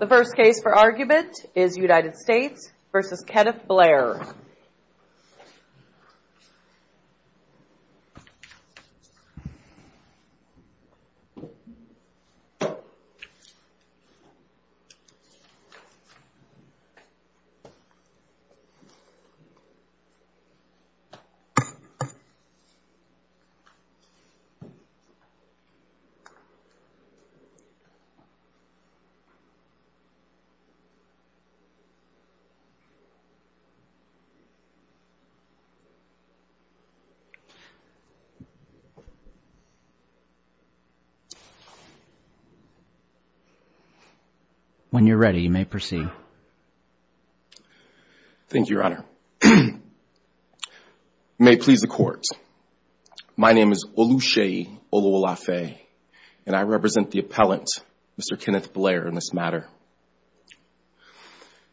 The first case for argument is United States v. Kenneth Blair. When you're ready, you may proceed. Thank you, your honor. My name is Oluseyi Olowolafe, and I represent the appellant, Mr. Kenneth Blair, in this matter.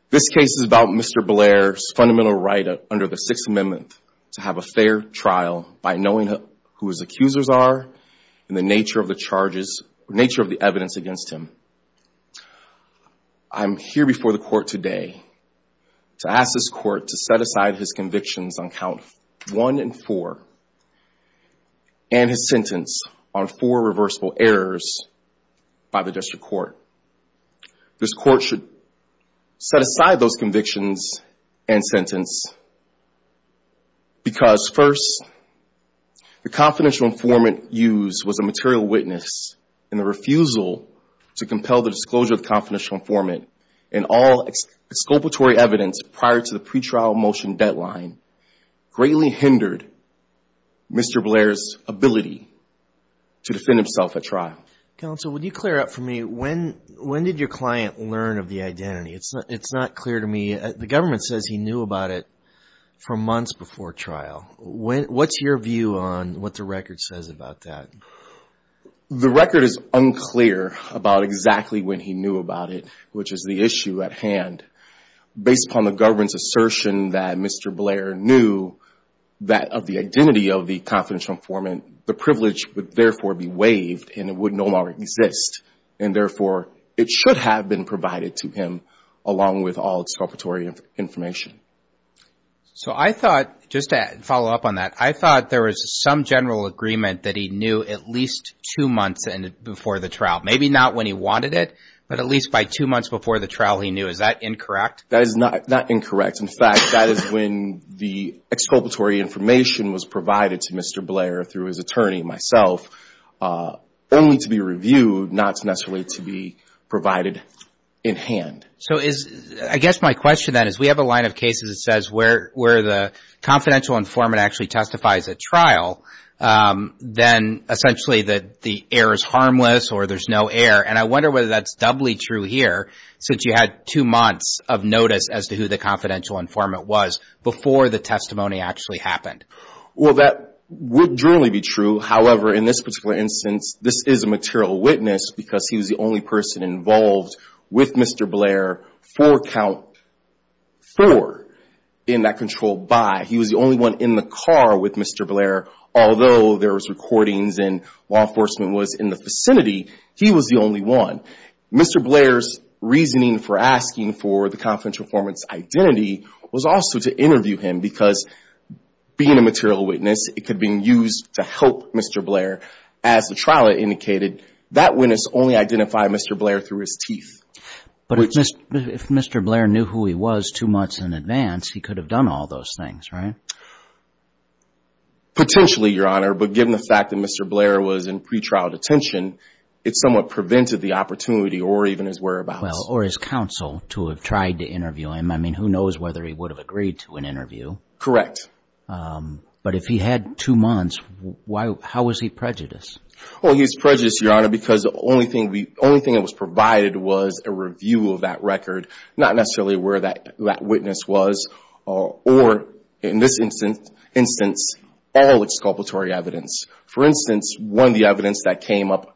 This case is about Mr. Blair's fundamental right under the Sixth Amendment to have a fair trial by knowing who his accusers are and the nature of the charges, nature of the evidence against him. I'm here before the court today to ask this court to set aside his convictions on count one and four and his sentence on four reversible errors by the district court. This court should set aside those convictions and sentence because, first, the confidential informant used was a material witness, and the refusal to compel the disclosure of the confidential informant and all exculpatory evidence prior to the pretrial motion deadline greatly hindered Mr. Blair's ability to defend himself at trial. Counsel, would you clear up for me, when did your client learn of the identity? It's not clear to me. The government says he knew about it for months before trial. What's your view on what the record says about that? The record is unclear about exactly when he knew about it, which is the issue at hand. Based upon the government's assertion that Mr. Blair knew that of the identity of the confidential informant, the privilege would therefore be waived and it would no longer exist. And, therefore, it should have been provided to him along with all exculpatory information. So I thought, just to follow up on that, I thought there was some general agreement that he knew at least two months before the trial. Maybe not when he wanted it, but at least by two months before the trial he knew. Is that incorrect? That is not incorrect. In fact, that is when the exculpatory information was provided to Mr. Blair through his attorney and myself, only to be reviewed, not necessarily to be provided in hand. So I guess my question then is we have a line of cases that says where the confidential informant actually testifies at trial, then essentially the error is harmless or there's no error. And I wonder whether that's doubly true here, since you had two months of notice as to who the confidential informant was before the testimony actually happened. Well, that would generally be true. However, in this particular instance, this is a material witness because he was the only person involved with Mr. Blair for count four in that controlled by. He was the only one in the car with Mr. Blair, although there was recordings and law enforcement was in the vicinity, he was the only one. Mr. Blair's reasoning for asking for the confidential informant's identity was also to interview him because being a material witness, it could be used to help Mr. Blair. As the trial indicated, that witness only identified Mr. Blair through his teeth. But if Mr. Blair knew who he was two months in advance, he could have done all those things, right? Potentially, Your Honor, but given the fact that Mr. Blair was in pretrial detention, it somewhat prevented the opportunity or even his whereabouts. Well, or his counsel to have tried to interview him. I mean, who knows whether he would have agreed to an interview. Correct. But if he had two months, how was he prejudiced? Well, he was prejudiced, Your Honor, because the only thing that was provided was a review of that record, not necessarily where that witness was. Or in this instance, all exculpatory evidence. For instance, one of the evidence that came up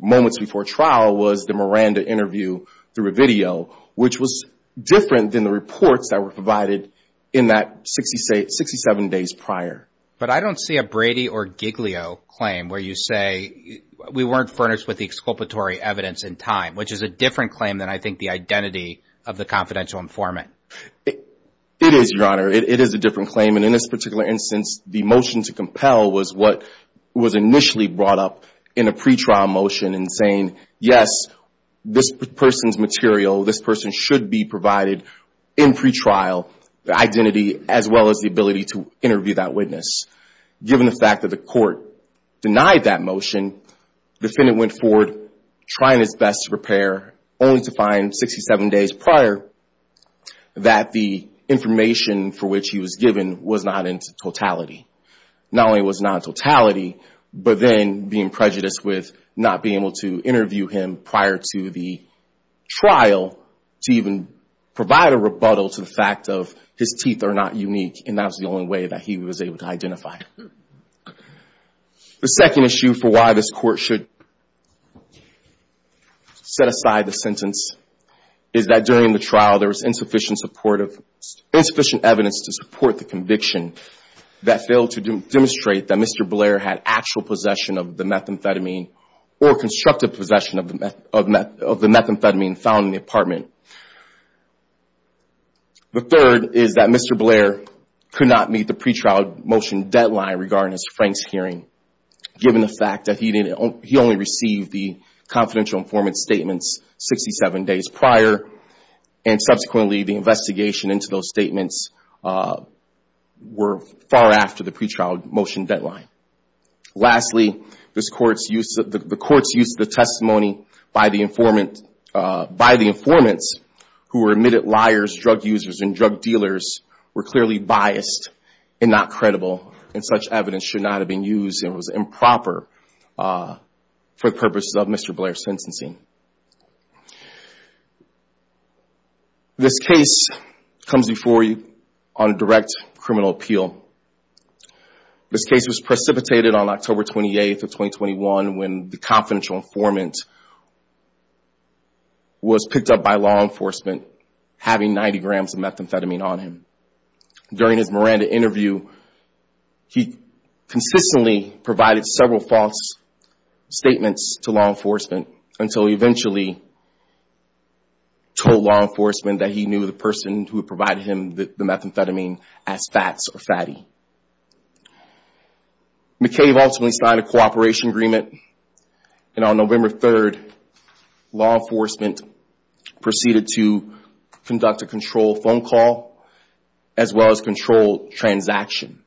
moments before trial was the Miranda interview through a video, which was different than the reports that were provided in that 67 days prior. But I don't see a Brady or Giglio claim where you say we weren't furnished with the exculpatory evidence in time, which is a different claim than I think the identity of the confidential informant. It is, Your Honor. It is a different claim. And in this particular instance, the motion to compel was what was initially brought up in a pretrial motion in saying, yes, this person's material, this person should be provided in pretrial, the identity as well as the ability to interview that witness. Given the fact that the court denied that motion, the defendant went forward trying his best to prepare, only to find 67 days prior that the information for which he was given was not in totality. Not only was not in totality, but then being prejudiced with not being able to interview him prior to the trial to even provide a rebuttal to the fact of his teeth are not unique. And that was the only way that he was able to identify. The second issue for why this court should set aside the sentence is that during the trial, there was insufficient evidence to support the conviction that failed to demonstrate that Mr. Blair had actual possession of the methamphetamine or constructive possession of the methamphetamine found in the apartment. The third is that Mr. Blair could not meet the pretrial motion deadline regarding Frank's hearing, given the fact that he only received the confidential informant statements 67 days prior, and subsequently the investigation into those statements were far after the pretrial motion deadline. Lastly, the court's use of the testimony by the informants who were admitted liars, drug users, and drug dealers were clearly biased and not credible, and such evidence should not have been used and was improper for the purposes of Mr. Blair's sentencing. This case comes before you on a direct criminal appeal. This case was precipitated on October 28th of 2021 when the confidential informant was picked up by law enforcement having 90 grams of methamphetamine on him. During his Miranda interview, he consistently provided several false statements to law enforcement until he eventually told law enforcement that he knew the person who provided him the methamphetamine as fats or fatty. McCabe ultimately signed a cooperation agreement, and on November 3rd, law enforcement proceeded to conduct a controlled phone call as well as controlled transaction.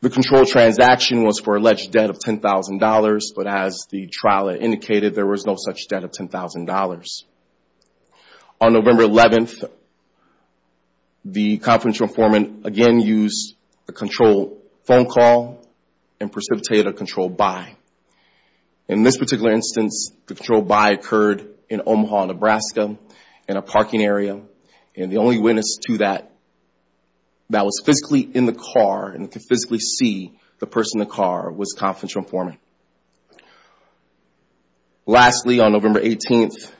The controlled transaction was for alleged debt of $10,000, but as the trial had indicated, there was no such debt of $10,000. On November 11th, the confidential informant again used a controlled phone call and precipitated a controlled buy. In this particular instance, the controlled buy occurred in Omaha, Nebraska in a parking area, and the only witness to that that was physically in the car and could physically see the person in the car was the confidential informant. Lastly, on November 18th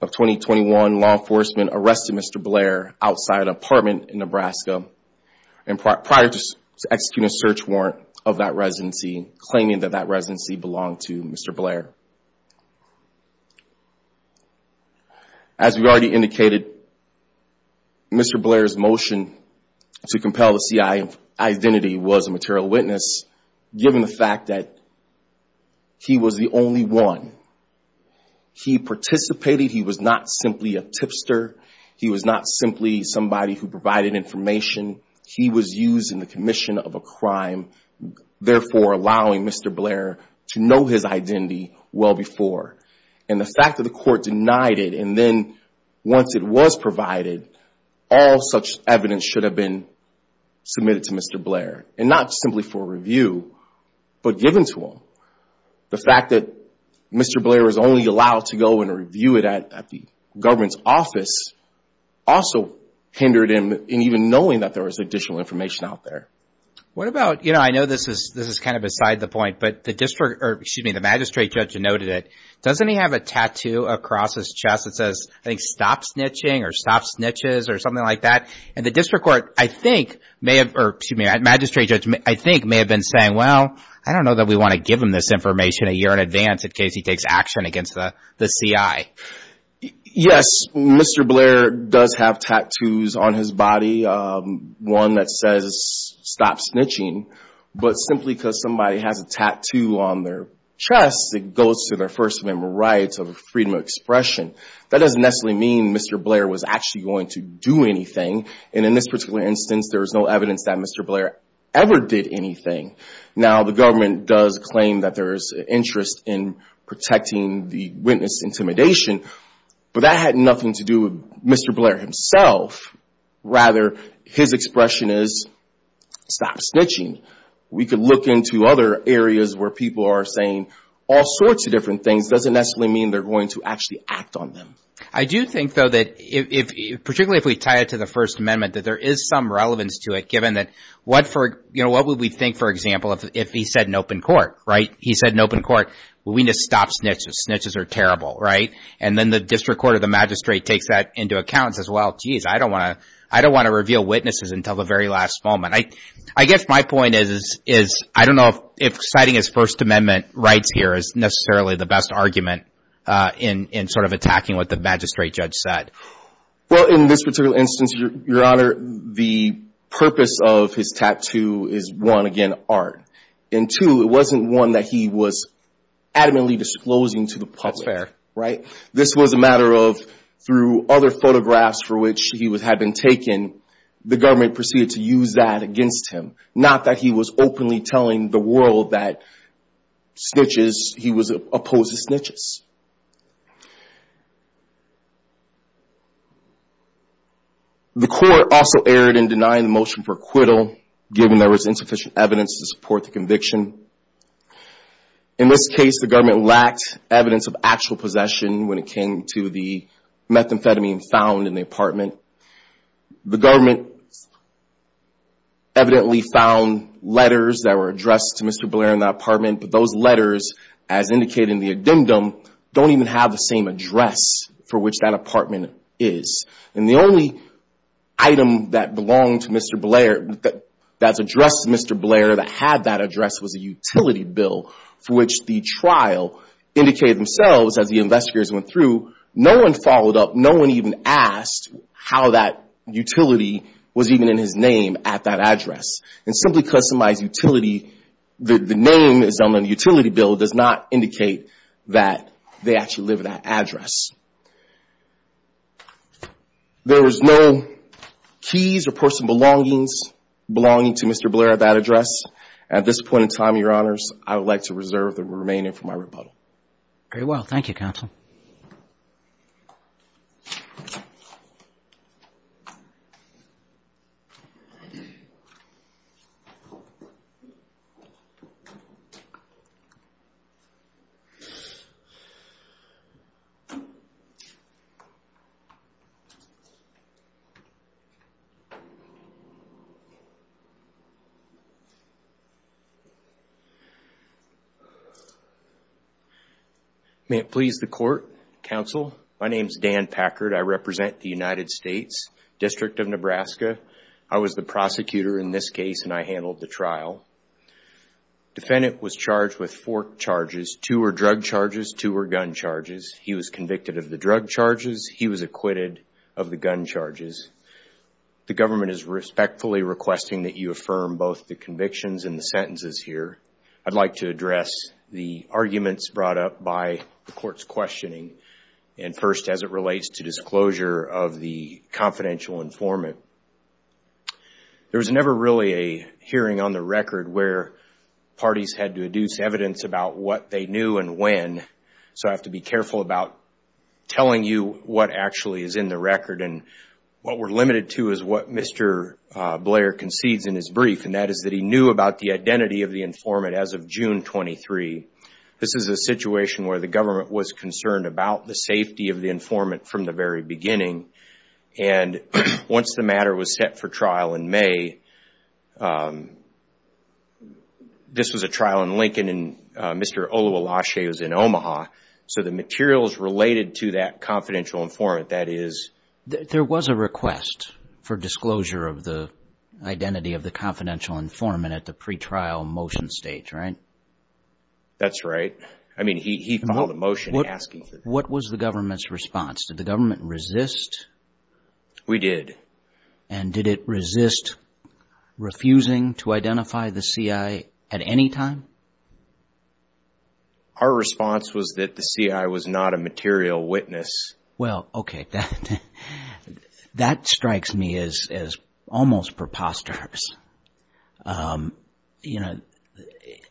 of 2021, law enforcement arrested Mr. Blair outside an apartment in Nebraska prior to executing a search warrant of that residency, claiming that that residency belonged to Mr. Blair. As we already indicated, Mr. Blair's motion to compel the CIA identity was a material witness, given the fact that he was the only one. He participated. He was not simply a tipster. He was not simply somebody who provided information. He was used in the commission of a crime, therefore allowing Mr. Blair to know his identity well before. And the fact that the court denied it, and then once it was provided, all such evidence should have been submitted to Mr. Blair, and not simply for review, but given to him. So, the fact that Mr. Blair was only allowed to go and review it at the government's office also hindered him in even knowing that there was additional information out there. What about, you know, I know this is kind of beside the point, but the magistrate judge noted it. Doesn't he have a tattoo across his chest that says, I think, stop snitching or stop snitches or something like that? And the district court, I think, may have, or excuse me, magistrate judge, I think, may have been saying, well, I don't know that we want to give him this information a year in advance in case he takes action against the CIA. Yes, Mr. Blair does have tattoos on his body, one that says stop snitching. But simply because somebody has a tattoo on their chest, it goes to their First Amendment rights of freedom of expression. That doesn't necessarily mean Mr. Blair was actually going to do anything. And in this particular instance, there is no evidence that Mr. Blair ever did anything. Now, the government does claim that there is interest in protecting the witness intimidation, but that had nothing to do with Mr. Blair himself. Rather, his expression is stop snitching. We could look into other areas where people are saying all sorts of different things. It doesn't necessarily mean they're going to actually act on them. I do think, though, that particularly if we tie it to the First Amendment, that there is some relevance to it given that what would we think, for example, if he said in open court, right? He said in open court, we need to stop snitches. Snitches are terrible, right? And then the district court or the magistrate takes that into account and says, well, jeez, I don't want to reveal witnesses until the very last moment. I guess my point is I don't know if citing his First Amendment rights here is necessarily the best argument in sort of attacking what the magistrate judge said. Well, in this particular instance, Your Honor, the purpose of his tattoo is, one, again, art. And, two, it wasn't one that he was adamantly disclosing to the public, right? This was a matter of through other photographs for which he had been taken, the government proceeded to use that against him, not that he was openly telling the world that snitches, he was opposed to snitches. The court also erred in denying the motion for acquittal given there was insufficient evidence to support the conviction. In this case, the government lacked evidence of actual possession when it came to the methamphetamine found in the apartment. The government evidently found letters that were addressed to Mr. Blair in the apartment, but those letters, as indicated in the addendum, don't even have the same address for which that apartment is. And the only item that belonged to Mr. Blair, that's addressed to Mr. Blair, that had that address was a utility bill for which the trial indicated themselves as the investigators went through. No one followed up, no one even asked how that utility was even in his name at that address. And simply customized utility, the name that's on the utility bill does not indicate that they actually live at that address. There was no keys or personal belongings belonging to Mr. Blair at that address. At this point in time, your honors, I would like to reserve the remaining for my rebuttal. Very well. Thank you, counsel. Thank you. May it please the court, counsel. My name's Dan Packard. I represent the United States District of Nebraska. I was the prosecutor in this case, and I handled the trial. Defendant was charged with four charges. Two were drug charges, two were gun charges. He was convicted of the drug charges. He was acquitted of the gun charges. The government is respectfully requesting that you affirm both the convictions and the sentences here. I'd like to address the arguments brought up by the court's questioning, and first as it relates to disclosure of the confidential informant. There was never really a hearing on the record where parties had to deduce evidence about what they knew and when, so I have to be careful about telling you what actually is in the record. And what we're limited to is what Mr. Blair concedes in his brief, and that is that he knew about the identity of the informant as of June 23. This is a situation where the government was concerned about the safety of the informant from the very beginning, and once the matter was set for trial in May, this was a trial in Lincoln, and Mr. Oluwilashe was in Omaha, so the materials related to that confidential informant, that is. There was a request for disclosure of the identity of the confidential informant at the pretrial motion stage, right? That's right. I mean, he filed a motion asking for that. What was the government's response? Did the government resist? We did. And did it resist refusing to identify the CI at any time? Our response was that the CI was not a material witness. Well, okay, that strikes me as almost preposterous. You know,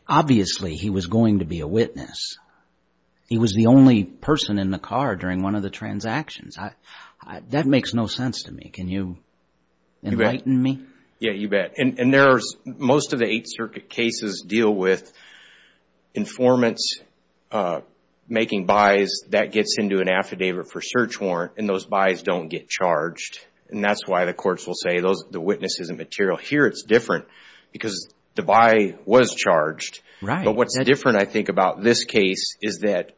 obviously he was going to be a witness. He was the only person in the car during one of the transactions. That makes no sense to me. Can you enlighten me? Yeah, you bet. And most of the Eighth Circuit cases deal with informants making buys. That gets into an affidavit for search warrant, and those buys don't get charged, and that's why the courts will say the witness isn't material. Here it's different because the buy was charged. But what's different, I think, about this case is that…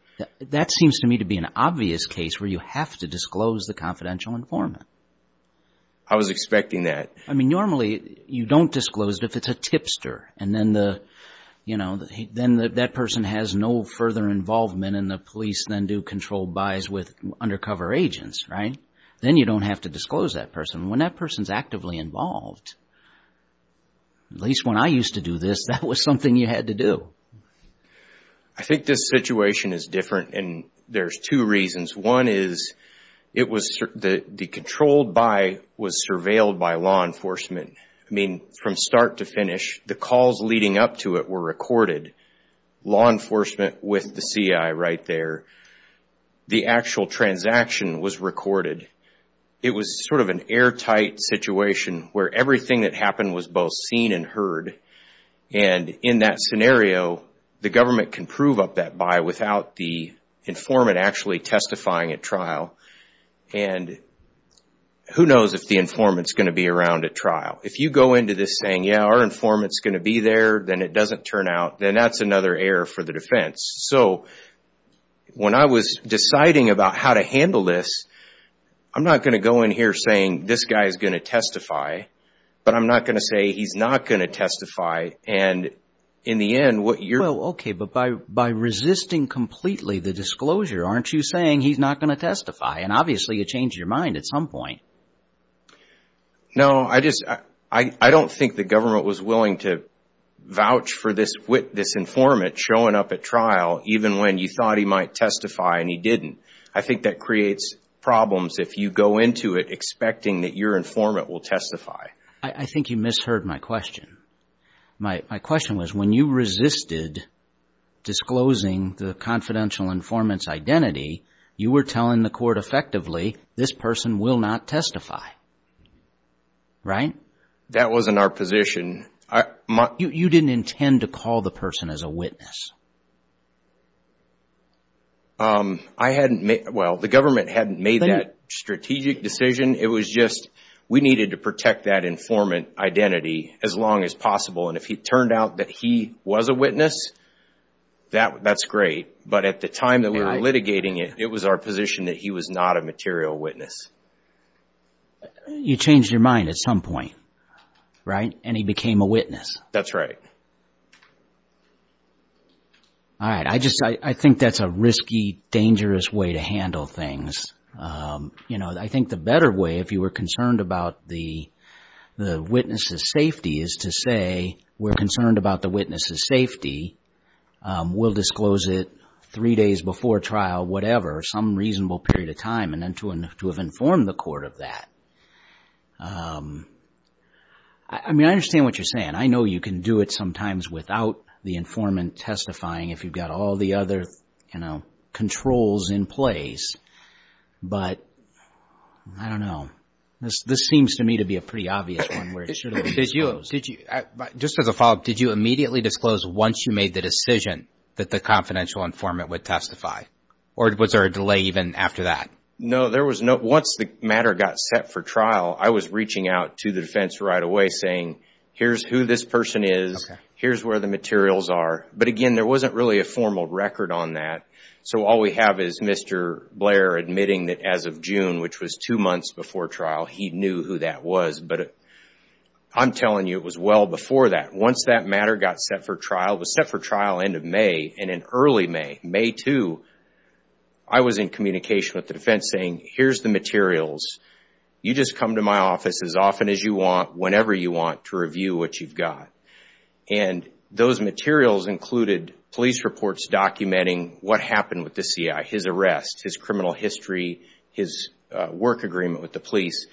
That seems to me to be an obvious case where you have to disclose the confidential informant. I was expecting that. I mean, normally you don't disclose it if it's a tipster, and then that person has no further involvement, and the police then do controlled buys with undercover agents, right? Then you don't have to disclose that person. When that person's actively involved, at least when I used to do this, that was something you had to do. I think this situation is different, and there's two reasons. One is the controlled buy was surveilled by law enforcement. I mean, from start to finish, the calls leading up to it were recorded. Law enforcement with the CI right there. The actual transaction was recorded. It was sort of an airtight situation where everything that happened was both seen and heard, and in that scenario, the government can prove up that buy without the informant actually testifying at trial, and who knows if the informant's going to be around at trial. If you go into this saying, yeah, our informant's going to be there, then it doesn't turn out, then that's another error for the defense. So when I was deciding about how to handle this, I'm not going to go in here saying this guy's going to testify, but I'm not going to say he's not going to testify, and in the end, what you're… Okay, but by resisting completely the disclosure, aren't you saying he's not going to testify? And obviously, you changed your mind at some point. No, I don't think the government was willing to vouch for this informant showing up at trial even when you thought he might testify and he didn't. I think that creates problems if you go into it expecting that your informant will testify. I think you misheard my question. My question was when you resisted disclosing the confidential informant's identity, you were telling the court effectively this person will not testify, right? That wasn't our position. You didn't intend to call the person as a witness. I hadn't made – well, the government hadn't made that strategic decision. It was just we needed to protect that informant identity as long as possible, and if it turned out that he was a witness, that's great. But at the time that we were litigating it, it was our position that he was not a material witness. You changed your mind at some point, right? And he became a witness. That's right. All right. I think that's a risky, dangerous way to handle things. You know, I think the better way if you were concerned about the witness's safety is to say we're concerned about the witness's safety, we'll disclose it three days before trial, whatever, some reasonable period of time, and then to have informed the court of that. I mean, I understand what you're saying. I know you can do it sometimes without the informant testifying if you've got all the other, you know, controls in place. But I don't know. This seems to me to be a pretty obvious one where it should have been disclosed. Just as a follow-up, did you immediately disclose once you made the decision that the confidential informant would testify? Or was there a delay even after that? No, there was no – once the matter got set for trial, I was reaching out to the defense right away saying, here's who this person is, here's where the materials are. But again, there wasn't really a formal record on that. So all we have is Mr. Blair admitting that as of June, which was two months before trial, he knew who that was. But I'm telling you, it was well before that. Once that matter got set for trial, it was set for trial end of May, and in early May, May 2, I was in communication with the defense saying, here's the materials, you just come to my office as often as you want, whenever you want, to review what you've got. And those materials included police reports documenting what happened with the CI, his arrest, his criminal history, his work agreement with the police.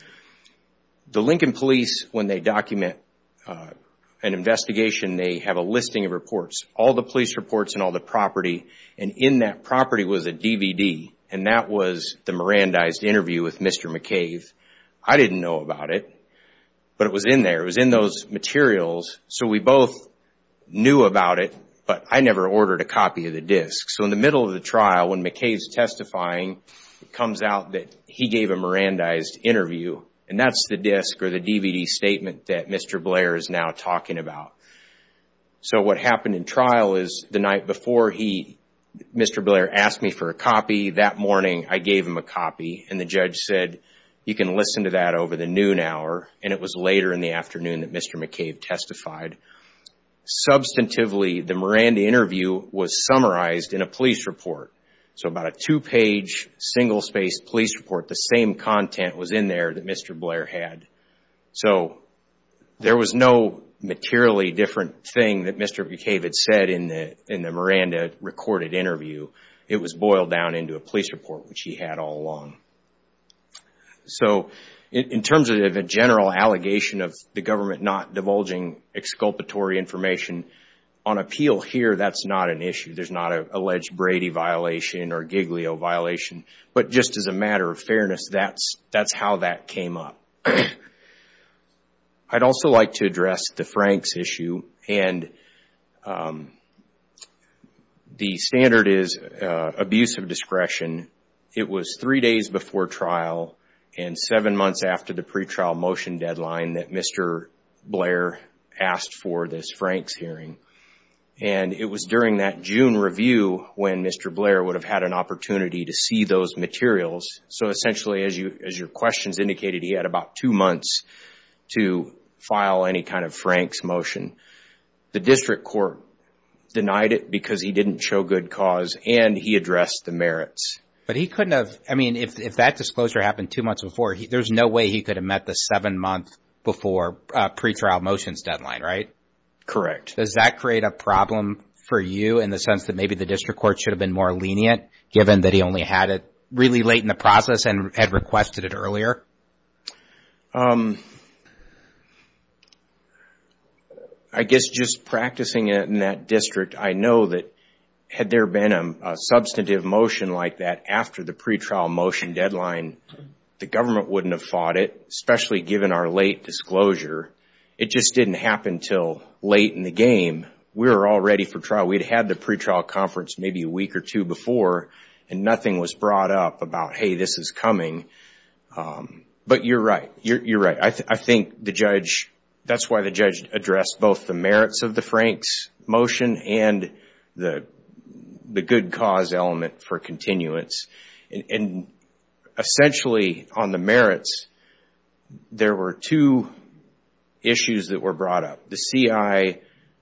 The Lincoln Police, when they document an investigation, they have a listing of reports, all the police reports and all the property. And in that property was a DVD, and that was the Mirandized interview with Mr. McCave. I didn't know about it, but it was in there. It was in those materials, so we both knew about it, but I never ordered a copy of the disc. So in the middle of the trial, when McCave's testifying, it comes out that he gave a Mirandized interview, and that's the disc or the DVD statement that Mr. Blair is now talking about. So what happened in trial is the night before, Mr. Blair asked me for a copy. That morning, I gave him a copy, and the judge said, you can listen to that over the noon hour, and it was later in the afternoon that Mr. McCave testified. Substantively, the Miranda interview was summarized in a police report. So about a two-page, single-spaced police report, the same content was in there that Mr. Blair had. So there was no materially different thing that Mr. McCave had said in the Miranda recorded interview. It was boiled down into a police report, which he had all along. So in terms of a general allegation of the government not divulging exculpatory information, on appeal here, that's not an issue. There's not an alleged Brady violation or Giglio violation, but just as a matter of fairness, that's how that came up. I'd also like to address the Franks issue. The standard is abuse of discretion. It was three days before trial and seven months after the pretrial motion deadline that Mr. Blair asked for this Franks hearing. It was during that June review when Mr. Blair would have had an opportunity to see those materials. So essentially, as your questions indicated, he had about two months to file any kind of Franks motion. The district court denied it because he didn't show good cause and he addressed the merits. But he couldn't have, I mean, if that disclosure happened two months before, there's no way he could have met the seven-month before pretrial motions deadline, right? Correct. Does that create a problem for you in the sense that maybe the district court should have been more lenient given that he only had it really late in the process and had requested it earlier? I guess just practicing it in that district, I know that had there been a substantive motion like that after the pretrial motion deadline, the government wouldn't have fought it, especially given our late disclosure. It just didn't happen until late in the game. We were all ready for trial. We'd had the pretrial conference maybe a week or two before, and nothing was brought up about, hey, this is coming. But you're right. You're right. I think the judge, that's why the judge addressed both the merits of the Franks motion and the good cause element for continuance. And essentially, on the merits, there were two issues that were brought up. The CI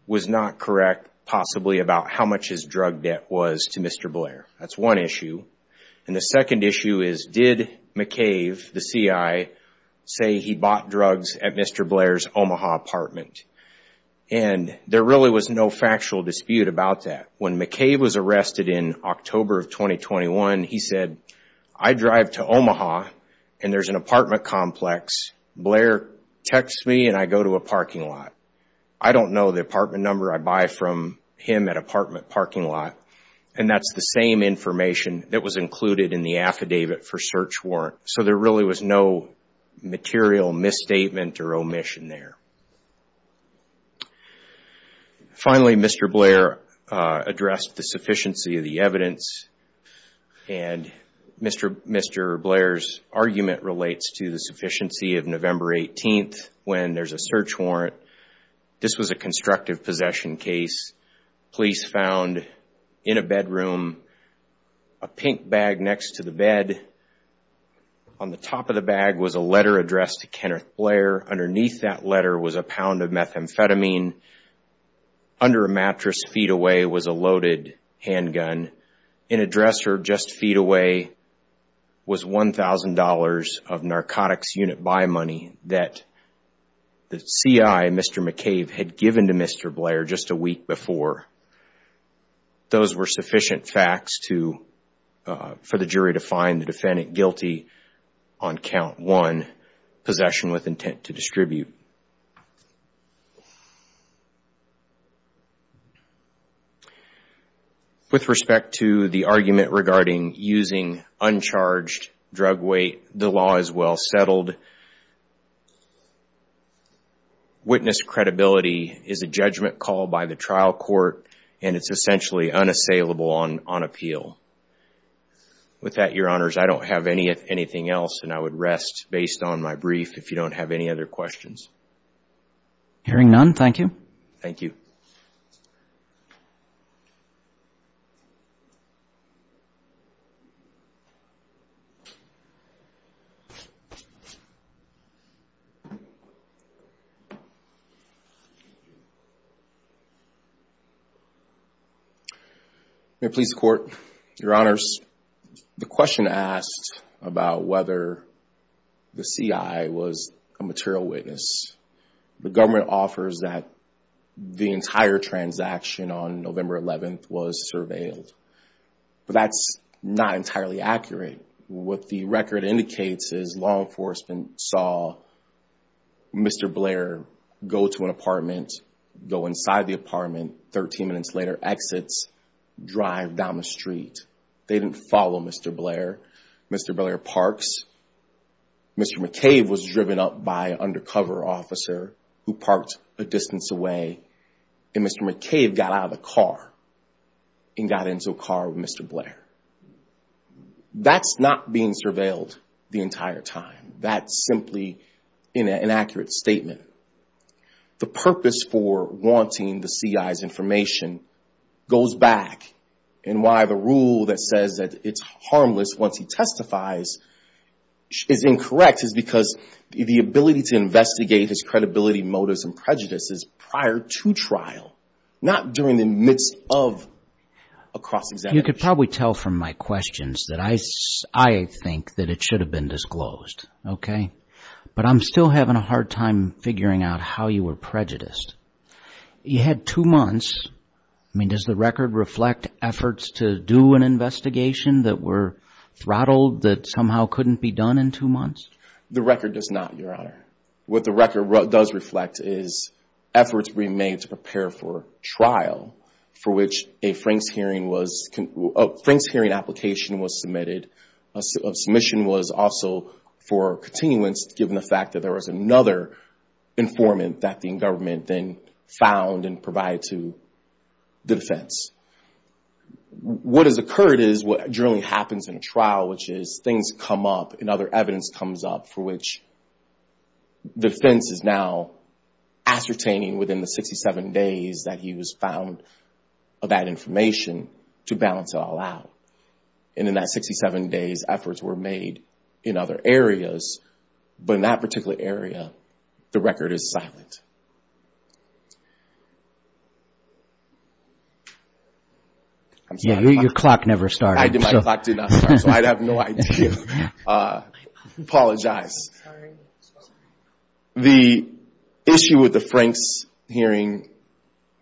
was not correct, possibly, about how much his drug debt was to Mr. Blair. That's one issue. And the second issue is, did McCabe, the CI, say he bought drugs at Mr. Blair's Omaha apartment? And there really was no factual dispute about that. When McCabe was arrested in October of 2021, he said, I drive to Omaha and there's an apartment complex. Blair texts me and I go to a parking lot. I don't know the apartment number I buy from him at apartment parking lot, and that's the same information that was included in the affidavit for search warrant. So there really was no material misstatement or omission there. Finally, Mr. Blair addressed the sufficiency of the evidence and Mr. Blair's argument relates to the sufficiency of November 18th when there's a search warrant. This was a constructive possession case. Police found, in a bedroom, a pink bag next to the bed. On the top of the bag was a letter addressed to Kenneth Blair. Underneath that letter was a pound of methamphetamine. Under a mattress feet away was a loaded handgun. In a dresser just feet away was $1,000 of narcotics unit buy money that the CI, Mr. McCabe, had given to Mr. Blair just a week before. Those were sufficient facts for the jury to find the defendant guilty on count one, possession with intent to distribute. With respect to the argument regarding using uncharged drug weight, the law is well settled. Witness credibility is a judgment called by the trial court and it's essentially unassailable on appeal. With that, Your Honors, I don't have anything else and I would rest based on my brief if you don't have any other questions. Hearing none, thank you. Thank you. Thank you. Mayor, Police, Court, Your Honors, the question asked about whether the CI was a material witness, the government offers that the entire transaction on November 11th was surveilled. But that's not entirely accurate. What the record indicates is law enforcement saw Mr. Blair go to an apartment, go inside the apartment, 13 minutes later exits, drive down the street. They didn't follow Mr. Blair. Mr. Blair parks. Mr. McCabe was driven up by an undercover officer who parked a distance away and Mr. McCabe got out of the car and got into a car with Mr. Blair. That's not being surveilled the entire time. That's simply an inaccurate statement. The purpose for wanting the CI's information goes back and why the rule that says that it's harmless once he testifies is incorrect is because the ability to investigate his credibility, motives, and prejudices prior to trial, not during the midst of a cross-examination. You could probably tell from my questions that I think that it should have been disclosed. But I'm still having a hard time figuring out how you were prejudiced. You had two months. Does the record reflect efforts to do an investigation that were throttled that somehow couldn't be done in two months? The record does not, Your Honor. What the record does reflect is efforts being made to prepare for trial for which a Frank's Hearing application was submitted. A submission was also for continuance given the fact that there was another informant that the government then found and provided to the defense. What has occurred is what generally happens in a trial, which is things come up and other evidence comes up for which the defense is now ascertaining within the 67 days that he was found of that information to balance it all out. And in that 67 days, efforts were made in other areas. But in that particular area, the record is silent. Your clock never started. My clock did not start, so I have no idea. I apologize. The issue with the Frank's Hearing,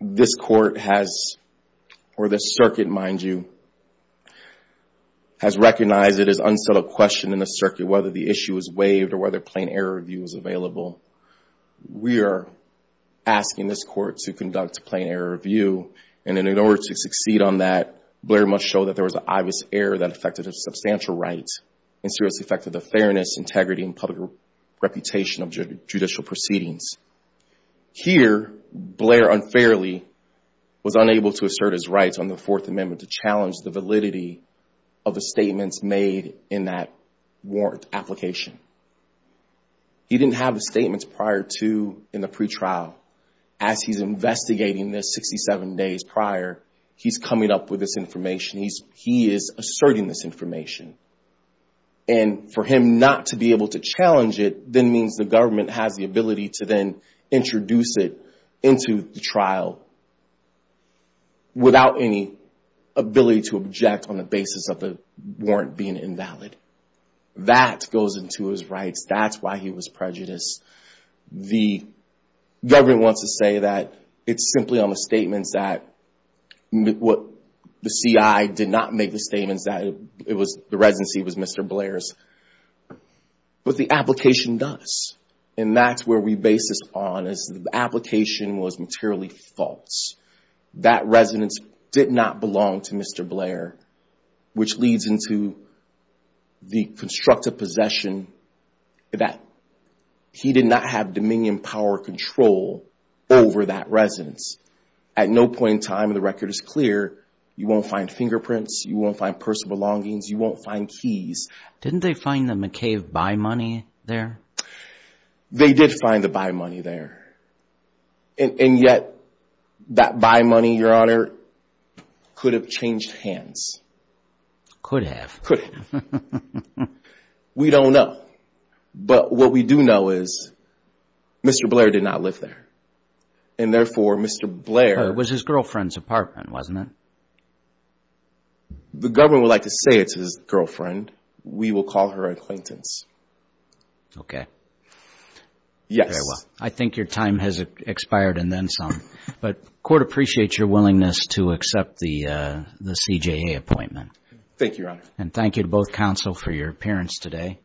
this court has, or the circuit, mind you, has recognized it as unsettled question in the circuit whether the issue was waived or whether plain error review was available. We are asking this court to conduct a plain error review, and in order to succeed on that, Blair must show that there was an obvious error that affected his substantial rights and seriously affected the fairness, integrity, and public reputation of judicial proceedings. Here, Blair unfairly was unable to assert his rights on the Fourth Amendment to challenge the validity of the statements made in that warrant application. He didn't have the statements prior to in the pretrial. As he's investigating this 67 days prior, he's coming up with this information. He is asserting this information. And for him not to be able to challenge it then means the government has the ability to then introduce it into the trial without any ability to object on the basis of the warrant being invalid. That goes into his rights. That's why he was prejudiced. The government wants to say that it's simply on the statements that the CI did not make the statements that the residency was Mr. Blair's, but the application does. And that's where we base this on is the application was materially false. That residence did not belong to Mr. Blair, which leads into the constructive possession that he did not have dominion, power, or control over that residence. At no point in time, the record is clear, you won't find fingerprints, you won't find personal belongings, you won't find keys. Didn't they find the McCabe buy money there? They did find the buy money there. And yet, that buy money, Your Honor, could have changed hands. Could have. Could have. We don't know. But what we do know is Mr. Blair did not live there. And therefore, Mr. Blair. It was his girlfriend's apartment, wasn't it? The government would like to say it's his girlfriend. We will call her an acquaintance. Okay. Yes. Very well. I think your time has expired and then some. But court appreciates your willingness to accept the CJA appointment. Thank you, Your Honor. And thank you to both counsel for your appearance today.